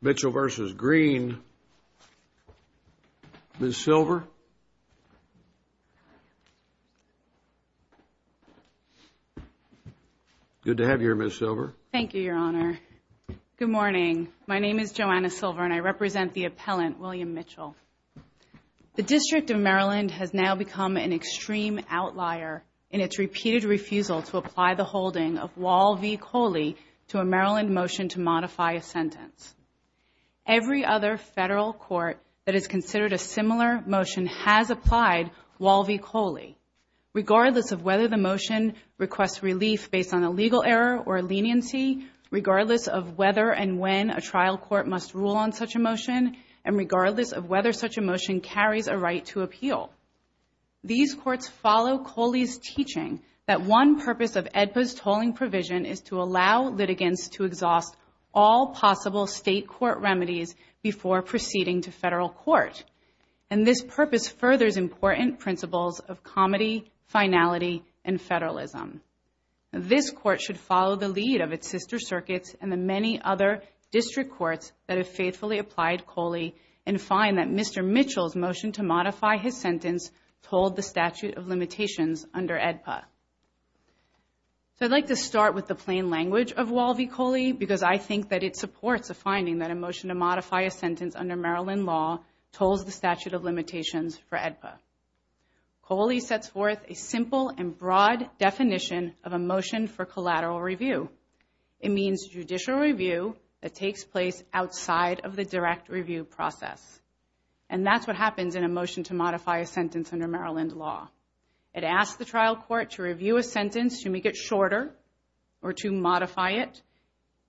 Mitchell v. Green. Ms. Silver. Good to have you here, Ms. Silver. Thank you, Your Honor. Good morning. My name is Joanna Silver and I represent the appellant William Mitchell. The District of Maryland has now become an extreme outlier in its repeated refusal to apply the holding of Wall v. Coley to a trial. Every other federal court that has considered a similar motion has applied Wall v. Coley, regardless of whether the motion requests relief based on a legal error or leniency, regardless of whether and when a trial court must rule on such a motion, and regardless of whether such a motion carries a right to appeal. These courts follow Coley's teaching that one purpose of AEDPA's before proceeding to federal court, and this purpose furthers important principles of comedy, finality, and federalism. This court should follow the lead of its sister circuits and the many other district courts that have faithfully applied Coley and find that Mr. Mitchell's motion to modify his sentence told the statute of limitations under AEDPA. So I'd like to start with the plain language of Wall v. Coley because I think that it supports the teaching that a motion to modify a sentence under Maryland law told the statute of limitations for AEDPA. Coley sets forth a simple and broad definition of a motion for collateral review. It means judicial review that takes place outside of the direct review process, and that's what happens in a motion to modify a sentence under Maryland law. It asks the trial court to review a sentence, to make it shorter, or to modify it,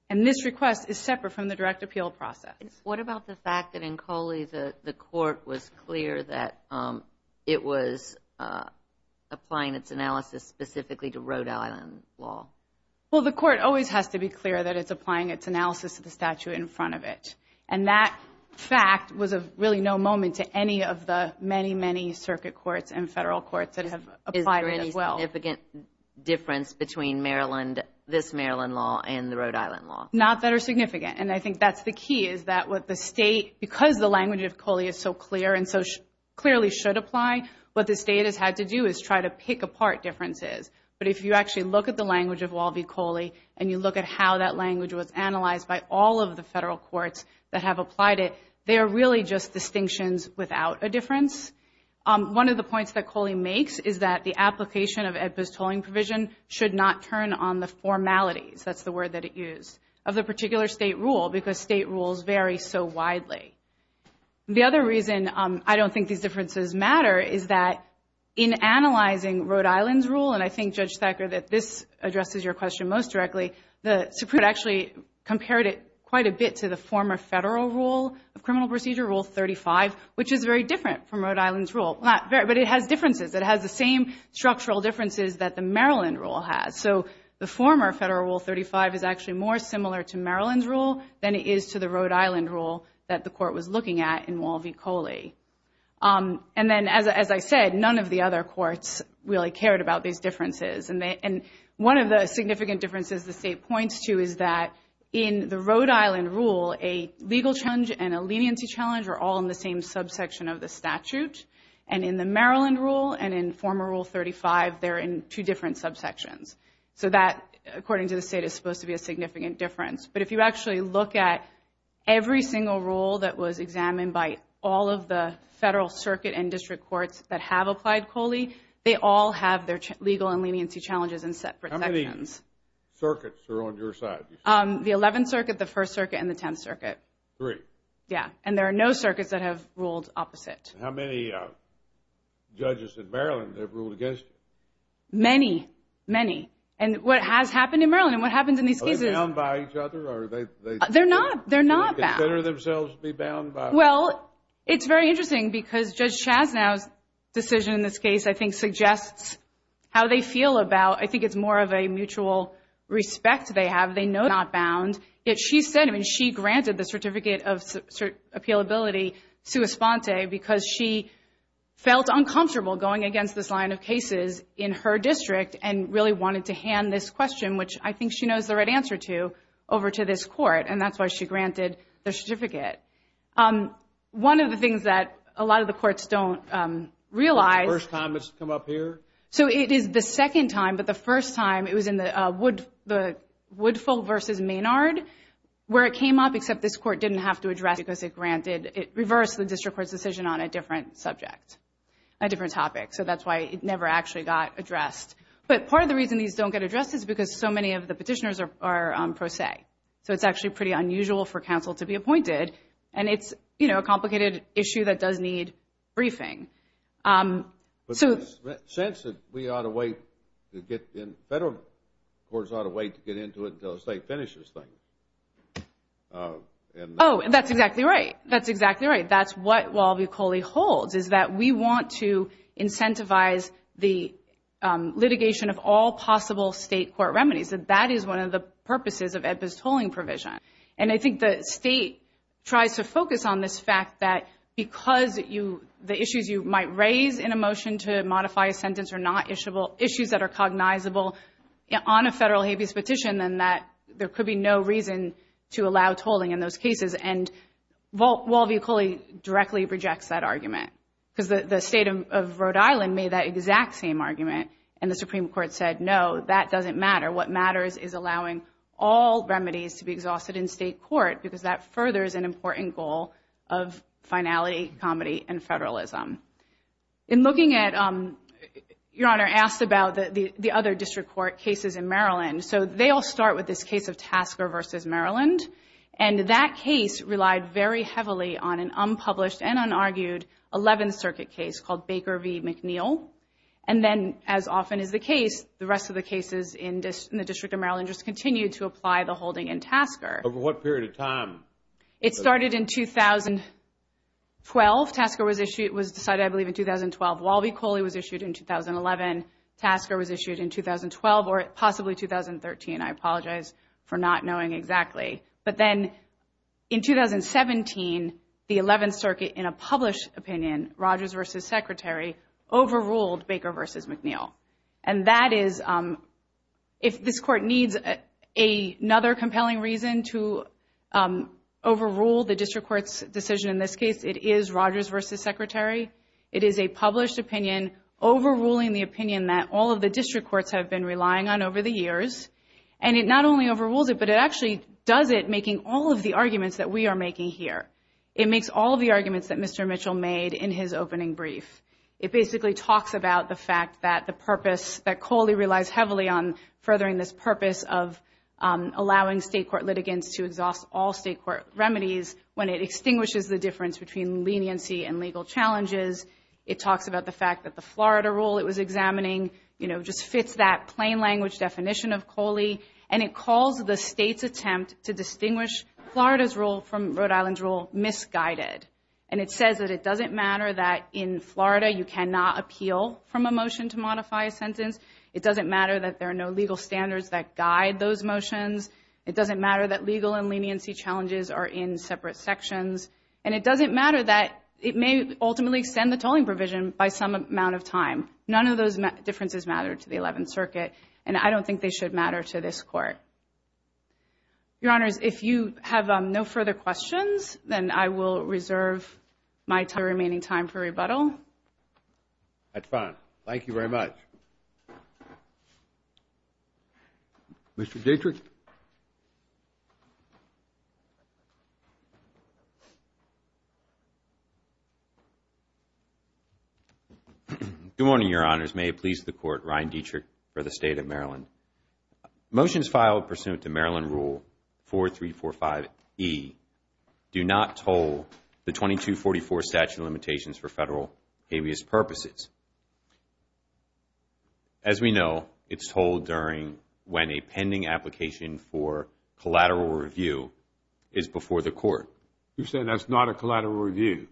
and this request is a direct appeal process. What about the fact that in Coley the the court was clear that it was applying its analysis specifically to Rhode Island law? Well the court always has to be clear that it's applying its analysis of the statute in front of it, and that fact was a really no moment to any of the many many circuit courts and federal courts that have applied it as well. Is there any significant difference between Maryland, this Maryland law, and the Rhode Island law? Not that are that's the key, is that what the state, because the language of Coley is so clear and so clearly should apply, what the state has had to do is try to pick apart differences. But if you actually look at the language of Walby Coley and you look at how that language was analyzed by all of the federal courts that have applied it, they are really just distinctions without a difference. One of the points that Coley makes is that the application of AEDPA's tolling provision should not turn on the formalities, that's the word that it used, of the particular state rule, because state rules vary so widely. The other reason I don't think these differences matter is that in analyzing Rhode Island's rule, and I think Judge Thacker that this addresses your question most directly, the Supreme Court actually compared it quite a bit to the former federal rule of criminal procedure, Rule 35, which is very different from Rhode Island's rule, but it has differences, it has the same structural differences that the court was looking at in Walby Coley. And then, as I said, none of the other courts really cared about these differences. And one of the significant differences the state points to is that in the Rhode Island rule, a legal challenge and a leniency challenge are all in the same subsection of the statute. And in the Maryland rule and in former Rule 35, they're in two different subsections. So that, according to the state, is supposed to be a significant difference. But if you actually look at every single rule that was examined by all of the federal circuit and district courts that have applied Coley, they all have their legal and leniency challenges in separate sections. How many circuits are on your side? The 11th Circuit, the 1st Circuit, and the 10th Circuit. Three. Yeah. And there are no circuits that have ruled opposite. How many judges in Maryland have ruled against you? Many, many. And what has happened in Maryland, and what happens in these cases? Are they bound by each other? They're not. They're not bound. Do they consider themselves to be bound by each other? Well, it's very interesting because Judge Chasnow's decision in this case, I think, suggests how they feel about, I think it's more of a mutual respect they have. They know they're not bound. Yet she said, I mean, she granted the Certificate of Appealability sua sponte because she felt uncomfortable going against this line of cases in her district and really wanted to hand this answer to over to this court, and that's why she granted the certificate. One of the things that a lot of the courts don't realize... The first time it's come up here? So it is the second time, but the first time it was in the Woodfull versus Maynard, where it came up, except this court didn't have to address it because it granted, it reversed the district court's decision on a different subject, a different topic. So that's why it never actually got addressed. But part of the reason these don't get addressed is because so many of the cases are pro se, so it's actually pretty unusual for counsel to be appointed, and it's, you know, a complicated issue that does need briefing. But there's a sense that we ought to wait to get in, federal courts ought to wait to get into it until the state finishes things. Oh, and that's exactly right. That's exactly right. That's what Walby-Coley holds, is that we want to incentivize the litigation of all possible state court remedies, that that is one of the purposes of EBBA's tolling provision. And I think the state tries to focus on this fact that because the issues you might raise in a motion to modify a sentence are not issues that are cognizable on a federal habeas petition, then there could be no reason to allow tolling in those cases. And Walby-Coley directly rejects that argument, because the state of Rhode Island made that exact same argument, and the Supreme Court said, no, that doesn't matter. What matters is allowing all remedies to be exhausted in state court, because that furthers an important goal of finality, comedy, and federalism. In looking at, Your Honor asked about the other district court cases in Maryland. So they all start with this case of Tasker v. Maryland, and that case relied very heavily on an unpublished and unargued Eleventh Circuit case called Baker v. McNeil. And then, as often is the case, the rest of the cases in the District of Maryland just continue to apply the holding in Tasker. Over what period of time? It started in 2012. Tasker was decided, I believe, in 2012. Walby-Coley was issued in 2011. Tasker was issued in 2012, or possibly 2013. I apologize for not knowing exactly. But then in 2017, the Eleventh Circuit, in a published opinion, Rogers v. Secretary overruled Baker v. McNeil. And that is, if this court needs another compelling reason to overrule the district court's decision in this case, it is Rogers v. Secretary. It is a published opinion overruling the opinion that all of the district courts have been relying on over the years. And it not only overrules it, but it actually does it, making all of the arguments that we are making here. It makes all of the arguments that Mr. Mitchell made in his opening brief. It basically talks about the fact that the purpose, that Coley relies heavily on furthering this purpose of allowing state court litigants to exhaust all state court remedies when it extinguishes the difference between leniency and legal challenges. It talks about the fact that the Florida rule it was examining, you know, just fits that plain language definition of Coley. And it calls the state's attempt to distinguish Florida's rule from misguided. And it says that it doesn't matter that in Florida you cannot appeal from a motion to modify a sentence. It doesn't matter that there are no legal standards that guide those motions. It doesn't matter that legal and leniency challenges are in separate sections. And it doesn't matter that it may ultimately extend the tolling provision by some amount of time. None of those differences matter to the 11th Circuit. And I don't think they should matter to this court. Your Honors, if you have no further questions, then I will reserve my remaining time for rebuttal. That's fine. Thank you very much. Mr. Dietrich. Good morning, Your Honors. May it please the Court, Ryan Dietrich for the State of Maryland. Motions filed pursuant to Maryland Rule 4345E do not toll the 2244 statute limitations for federal habeas purposes. As we know, it's tolled during when a pending application for collateral review is before the Court. You're saying that's not a collateral review?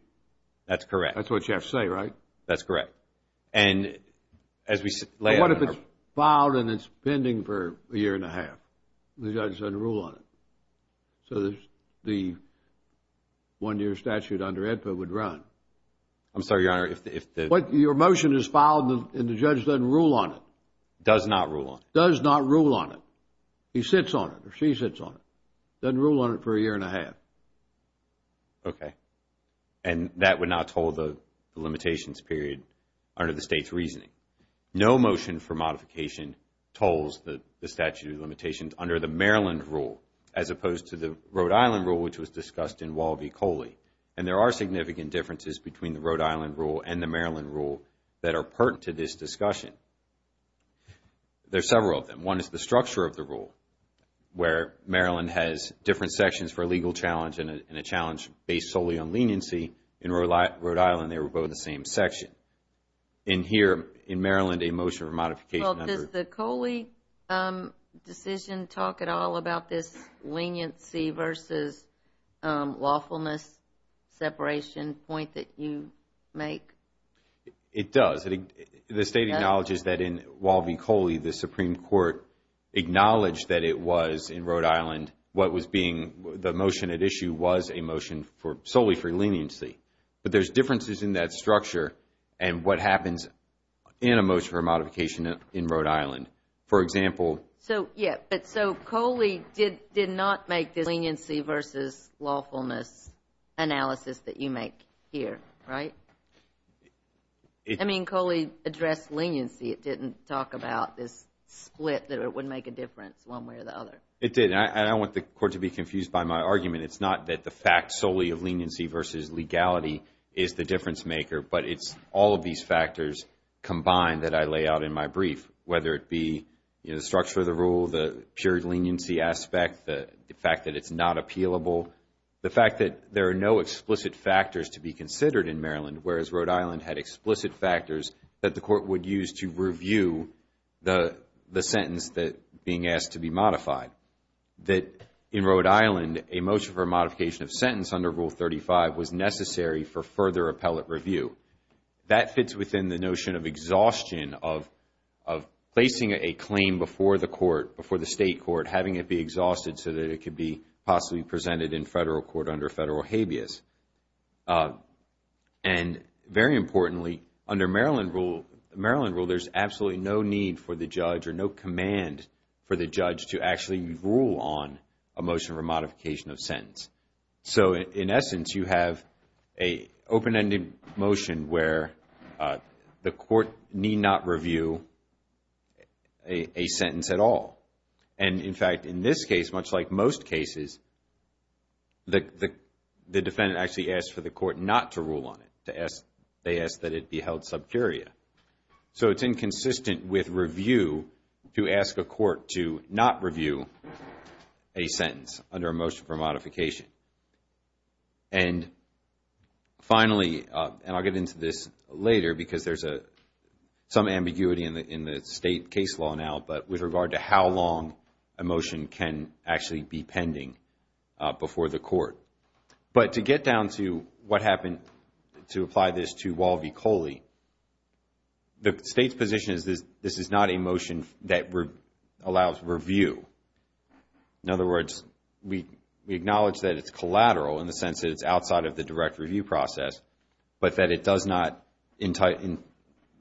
That's correct. That's what you have to say, right? That's correct. And what if it's filed and it's pending for a year and a half? The judge doesn't rule on it. So the one-year statute under AEDPA would run. I'm sorry, Your Honor. Your motion is filed and the judge doesn't rule on it. Does not rule on it. Does not rule on it. He sits on it. Or she sits on it. Doesn't rule on it for a year and a half. Okay. And that would not toll the limitations period under the State's reasoning. No motion for modification tolls the statute of limitations under the Maryland Rule as opposed to the Rhode Island Rule which was discussed in Walby-Coley. And there are significant differences between the Rhode Island Rule and the Maryland Rule that are pertinent to this discussion. There's several of them. One is the structure of the rule where Maryland has different sections for a leniency. In Rhode Island, they were both in the same section. In here, in Maryland, a motion for modification under Well, does the Coley decision talk at all about this leniency versus lawfulness separation point that you make? It does. The State acknowledges that in Walby-Coley, the Supreme Court acknowledged that it was in Rhode Island what was being the motion at issue was a for leniency. But there's differences in that structure and what happens in a motion for modification in Rhode Island. For example, So, yeah, but so Coley did not make this leniency versus lawfulness analysis that you make here, right? I mean, Coley addressed leniency. It didn't talk about this split that it would make a difference one way or the other. It did. And I don't want the Court to be confused by my argument. It's not that the fact solely of leniency versus legality is the difference maker, but it's all of these factors combined that I lay out in my brief, whether it be the structure of the rule, the pure leniency aspect, the fact that it's not appealable, the fact that there are no explicit factors to be considered in Maryland whereas Rhode Island had explicit factors that the Court would use to review the sentence that being asked to be modified. That in Rhode Island, a motion for modification of sentence under Rule 35 was necessary for further appellate review. That fits within the notion of exhaustion of placing a claim before the court, before the state court, having it be exhausted so that it could be possibly presented in federal court under federal habeas. And very importantly, under Maryland rule, there's absolutely no need for the state to rule on a motion for modification of sentence. So in essence, you have an open-ended motion where the court need not review a sentence at all. And in fact, in this case, much like most cases, the defendant actually asks for the court not to rule on it. They ask that it be held sub curia. So it's inconsistent with review to ask a court to not review a sentence under a motion for modification. And finally, and I'll get into this later because there's some ambiguity in the state case law now, but with regard to how long a motion can actually be pending before the court. But to get down to what happened to apply this to Wall v. Coley, the state's position is this is not a motion that allows review. In other words, we acknowledge that it's collateral in the sense that it's outside of the direct review process, but that it does not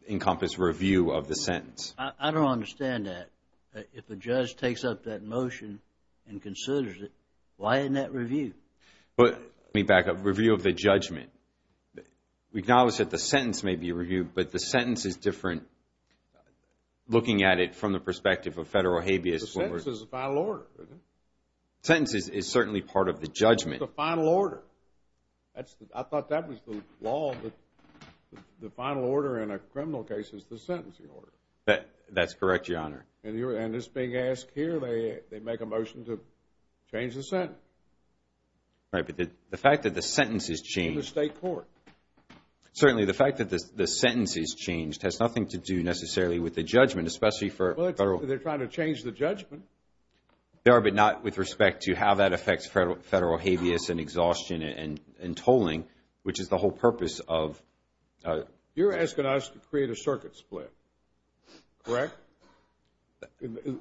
encompass review of the sentence. I don't understand that. If a judge takes up that motion and considers it, why isn't that review? But let me back up. Review of the judgment. We acknowledge that the sentence may be reviewed, but the sentence is different looking at it from the perspective of federal habeas. The sentence is the final order. Sentence is certainly part of the judgment. It's the final order. I thought that was the law, that the final order in a criminal case is the sentencing order. That's correct, Your Honor. And this being asked here, they make a motion to change the sentence. Right, but the fact that the sentence is changed. In the state court. Certainly, the fact that the sentence is changed has nothing to do necessarily with the judgment, especially for federal. They're trying to change the judgment. They are, but not with respect to how that affects federal habeas and exhaustion and tolling, which is the whole purpose of. You're asking us to create a circuit split, correct?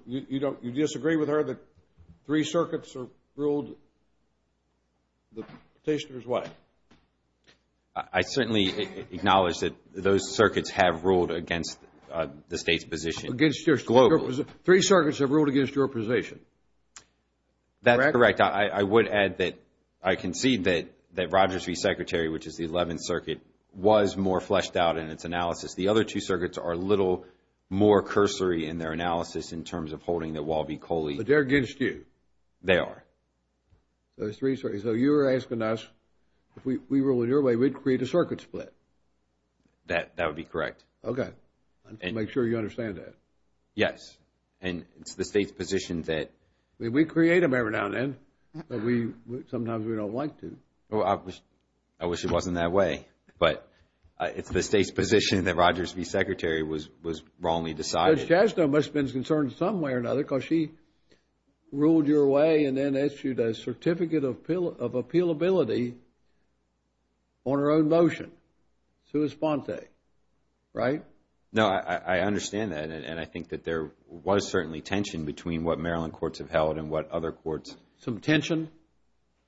You disagree with her that three circuits are ruled the petitioner's way? I certainly acknowledge that those circuits have ruled against the state's position. Against your position. Three circuits have ruled against your position. That's correct. I would add that I concede that Rogers v. Secretary, which is the 11th Circuit, was more fleshed out in its analysis. The other two circuits are a little more cursory in their analysis in terms of holding the Walby-Coley. But they're against you? They are. Those three circuits. So you're asking us, if we ruled in your way, we'd create a circuit split? That would be correct. Okay, I'll make sure you understand that. Yes, and it's the state's position that. We create them every now and then, but sometimes we don't like to. I wish it wasn't that way, but it's the state's position that Rogers v. Secretary was wrongly decided. Judge Chasto must have been concerned in some way or another because she ruled your way and then issued a certificate of appealability on her own motion. Suis Ponte, right? No, I understand that and I think that there was certainly tension between what Maryland courts have held and what other courts. Some tension?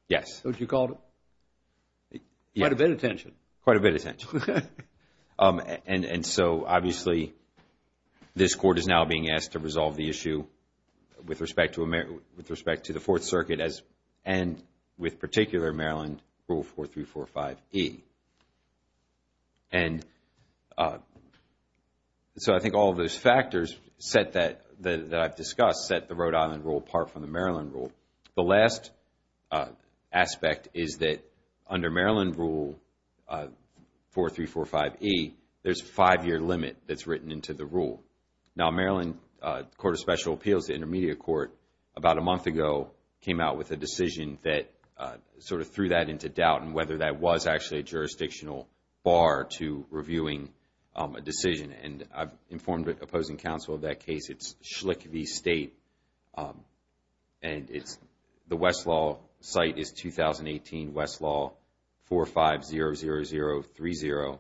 Yes. Is that what you called it? Quite a bit of tension. Quite a bit of tension. And so, obviously, this court is now being asked to resolve the issue with respect to the Fourth Circuit and with particular Maryland Rule 4345E. And so I think all of those factors that I've discussed set the Rhode Island rule apart from the Maryland rule. The last aspect is that under Maryland Rule 4345E, there's a five-year limit that's written into the rule. Now, Maryland Court of Special Appeals, the intermediate court, about a month ago came out with a decision that sort of threw that into doubt and whether that was actually a jurisdictional bar to reviewing a decision. And I've informed opposing counsel of that case. It's Schlicke v. State and the Westlaw site is 2018 Westlaw 4500030.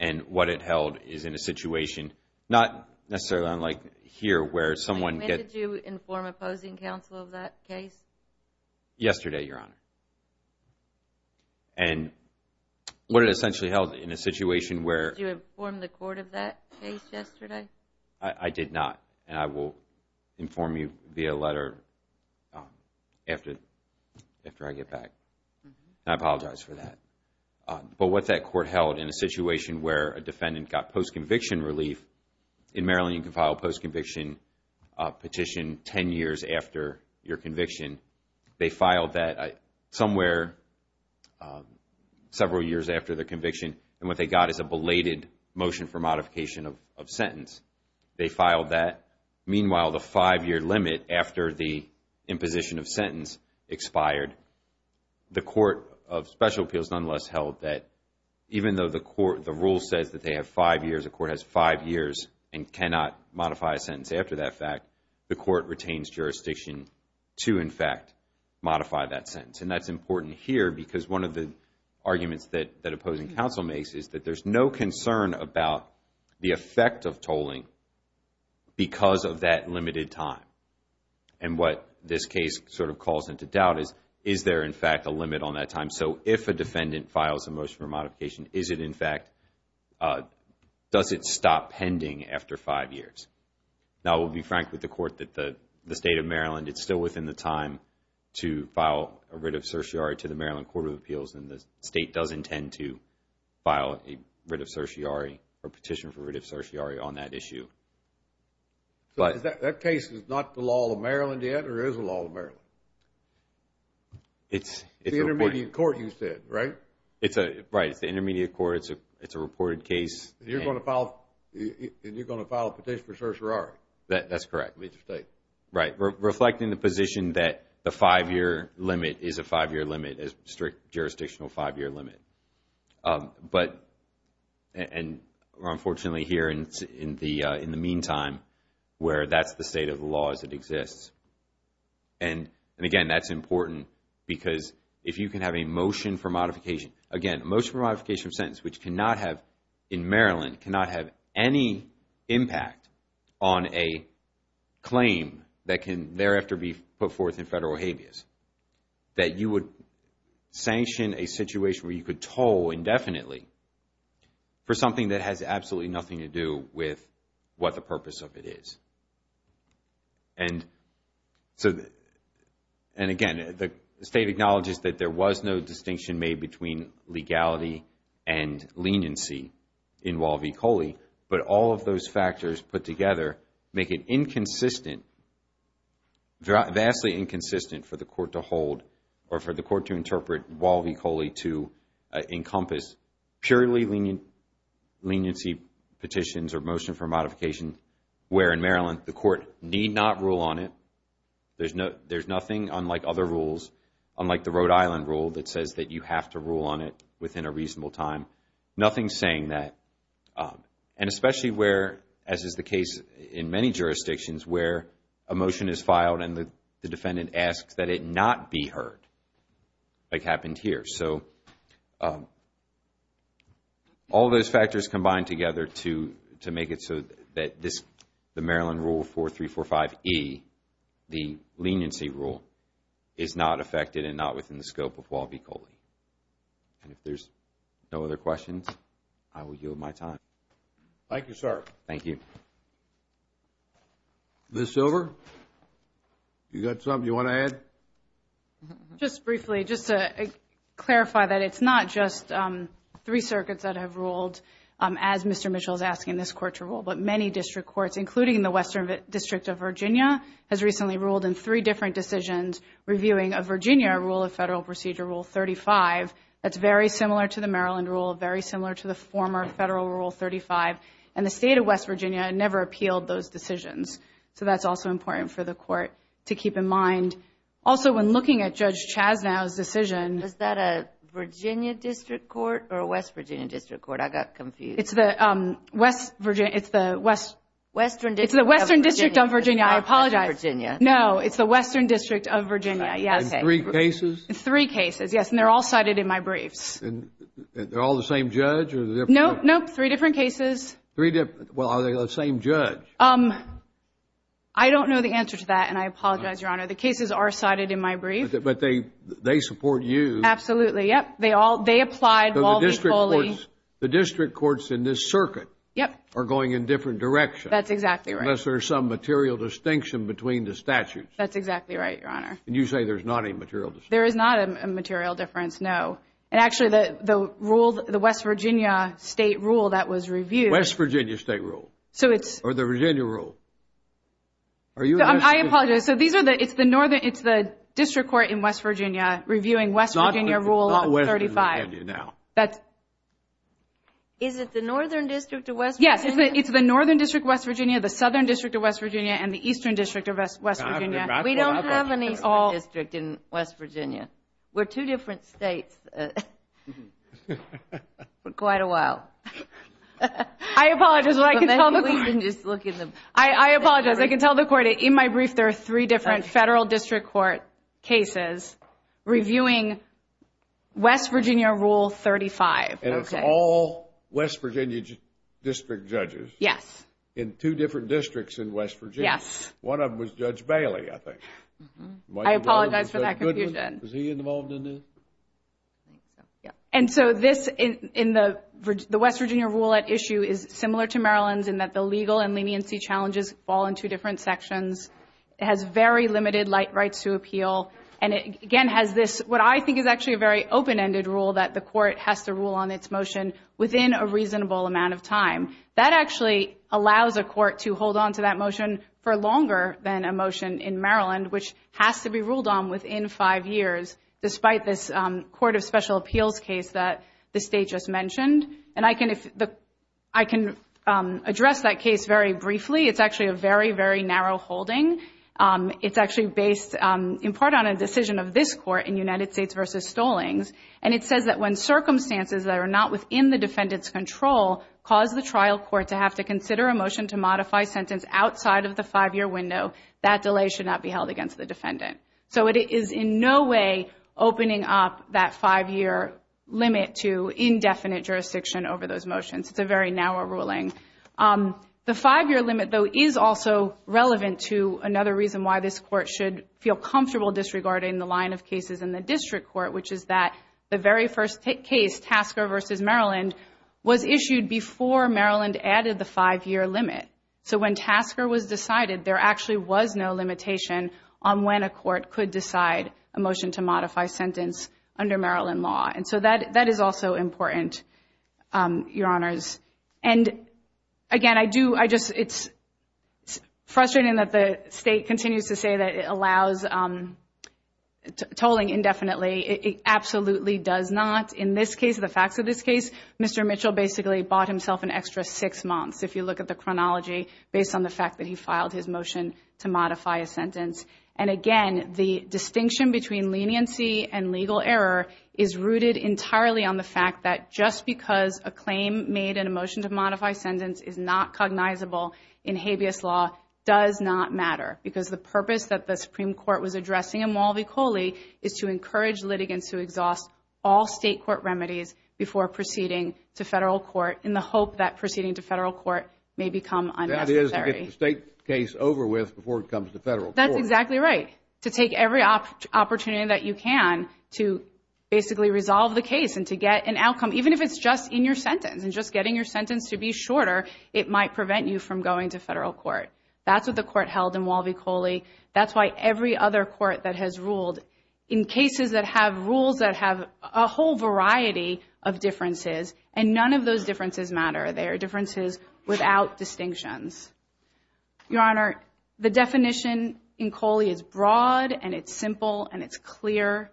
And what it held is in a situation, not necessarily unlike here, where someone gets- When did you inform opposing counsel of that case? Yesterday, Your Honor. And what it essentially held in a situation where- Did you inform the court of that case yesterday? I did not. And I will inform you via letter after I get back. I apologize for that. But what that court held in a situation where a defendant got post-conviction relief, in Maryland you can file a post-conviction petition 10 years after your conviction. They filed that somewhere several years after the conviction. And what they got is a belated motion for modification of sentence. They filed that. Meanwhile, the five-year limit after the imposition of sentence expired, the Court of Special Appeals nonetheless held that even though the rule says that they have five years, a court has five years and cannot modify a sentence after that fact, the court retains jurisdiction to, in fact, modify that sentence. And that's important here because one of the arguments that opposing counsel makes is that there's no concern about the effect of tolling because of that limited time. And what this case sort of calls into doubt is, is there, in fact, a limit on that time? So if a defendant files a motion for modification, is it, in fact, does it stop pending after five years? Now, I will be frank with the court that the state of Maryland, it's still within the time to file a writ of certiorari to the Maryland Court of Appeals, and the state does intend to file a writ of certiorari or petition for writ of certiorari on that issue. So that case is not the law of Maryland yet or is the law of Maryland? It's the intermediate court, you said, right? Right. It's the intermediate court. It's a reported case. And you're going to file a petition for certiorari? That's correct. Right. Reflecting the position that the five-year limit is a five-year limit, a strict jurisdictional five-year limit. But, and unfortunately here in the meantime where that's the state of the law as it exists. And again, that's important because if you can have a motion for modification, again, a motion for modification of sentence which cannot have, in Maryland, cannot have any impact on a claim that can thereafter be put forth in federal habeas, that you would sanction a situation where you could toll indefinitely for something that has absolutely nothing to do with what the purpose of it is. And so, and again, the state acknowledges that there was no distinction made between legality and leniency in Wall v. Coley. But all of those factors put together make it inconsistent, vastly inconsistent for the court to hold or for the court to interpret Wall v. Coley to encompass purely leniency petitions or motion for modification where in Maryland the court need not rule on it. There's nothing unlike other rules, unlike the Rhode Island rule that says that you have to rule on it within a reasonable time. Nothing saying that. And especially where, as is the case in many jurisdictions where a motion is filed and the defendant asks that it not be heard, like happened here. So, all those factors combined together to make it so that this, the Maryland rule 4345E, the leniency rule, is not affected and not within the scope of the state. And if there's no other questions, I will yield my time. Thank you, sir. Thank you. Ms. Silver, you got something you want to add? Just briefly, just to clarify that it's not just three circuits that have ruled as Mr. Mitchell is asking this court to rule, but many district courts, including the Western District of Virginia, has recently ruled in three different decisions reviewing a Virginia Rule of Federal Procedure, Rule 35, that's very similar to the Maryland rule, very similar to the former Federal Rule 35. And the state of West Virginia never appealed those decisions. So that's also important for the court to keep in mind. Also when looking at Judge Chasnow's decision... Is that a Virginia District Court or a West Virginia District Court? I got confused. It's the West Virginia, it's the West... Western District of Virginia. It's the Western District of Virginia. I apologize. It's the Western District of Virginia. No, it's the Western District of Virginia, yes. In three cases? In three cases, yes. And they're all cited in my briefs. And they're all the same judge or are they different? No, no, three different cases. Three different... Well, are they the same judge? I don't know the answer to that and I apologize, Your Honor. The cases are cited in my brief. But they support you. Absolutely, yes. They all... They applied... So the district courts... The district courts in this circuit... Yes. ...are going in different directions. That's exactly right. Unless there's some material distinction between the statutes. That's exactly right, Your Honor. And you say there's not a material distinction? There is not a material difference, no. And actually, the rule, the West Virginia state rule that was reviewed... West Virginia state rule? So it's... Or the Virginia rule? Are you... I apologize. So these are the... It's the Northern... It's the district court in West Virginia reviewing West Virginia Rule 35. Not Western Virginia now. Is it the Northern District of West Virginia? Yes. It's the Northern District of West Virginia, the Southern District of West Virginia, and the Eastern District of West Virginia. We don't have an Eastern District in West Virginia. We're two different states for quite a while. I apologize. Well, I can tell the court... We can just look in the... I apologize. I can tell the court, in my brief, there are three different federal district court cases reviewing West Virginia Rule 35. Okay. All West Virginia district judges? Yes. In two different districts in West Virginia? Yes. One of them was Judge Bailey, I think. I apologize for that confusion. Was he involved in this? And so this, the West Virginia rule at issue is similar to Maryland's in that the legal and leniency challenges fall in two different sections. It has very limited rights to appeal. And it, again, has this, what I think is actually a very open-ended rule that the court has to rule on its motion within a reasonable amount of time. That actually allows a court to hold onto that motion for longer than a motion in Maryland, which has to be ruled on within five years, despite this Court of Special Appeals case that the state just mentioned. And I can address that case very briefly. It's actually a very, very narrow holding. It's actually based, in part, on a decision of this court in United States v. Stollings. And it says that when circumstances that are not within the defendant's control cause the trial court to have to consider a motion to modify sentence outside of the five-year window, that delay should not be held against the defendant. So it is in no way opening up that five-year limit to indefinite jurisdiction over those motions. It's a very narrow ruling. The five-year limit, though, is also relevant to another reason why this court should feel The very first case, Tasker v. Maryland, was issued before Maryland added the five-year limit. So when Tasker was decided, there actually was no limitation on when a court could decide a motion to modify sentence under Maryland law. And so that is also important, Your Honors. And again, I do, I just, it's frustrating that the state continues to say that it allows tolling indefinitely. It absolutely does not. In this case, the facts of this case, Mr. Mitchell basically bought himself an extra six months, if you look at the chronology, based on the fact that he filed his motion to modify a sentence. And again, the distinction between leniency and legal error is rooted entirely on the fact that just because a claim made in a motion to modify sentence is not cognizable in habeas law does not matter. Because the purpose that the Supreme Court was addressing in Mulvey-Coley is to encourage litigants to exhaust all state court remedies before proceeding to federal court in the hope that proceeding to federal court may become unnecessary. That is to get the state case over with before it comes to federal court. That's exactly right. To take every opportunity that you can to basically resolve the case and to get an outcome, even if it's just in your sentence, and just getting your sentence to be shorter, it might prevent you from going to federal court. That's what the court held in Mulvey-Coley. That's why every other court that has ruled in cases that have rules that have a whole variety of differences, and none of those differences matter. They are differences without distinctions. Your Honor, the definition in Coley is broad, and it's simple, and it's clear.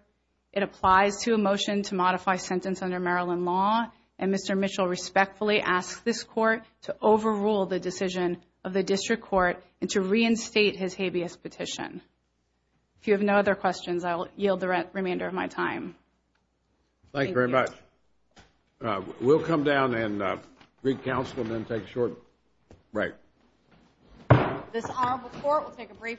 It applies to a motion to modify sentence under Maryland law, and Mr. Mitchell respectfully asked this court to overrule the decision of the district court and to reinstate his habeas petition. If you have no other questions, I will yield the remainder of my time. Thank you. Thank you very much. We'll come down and re-counsel and then take a short break. This Honorable Court will take a brief recess.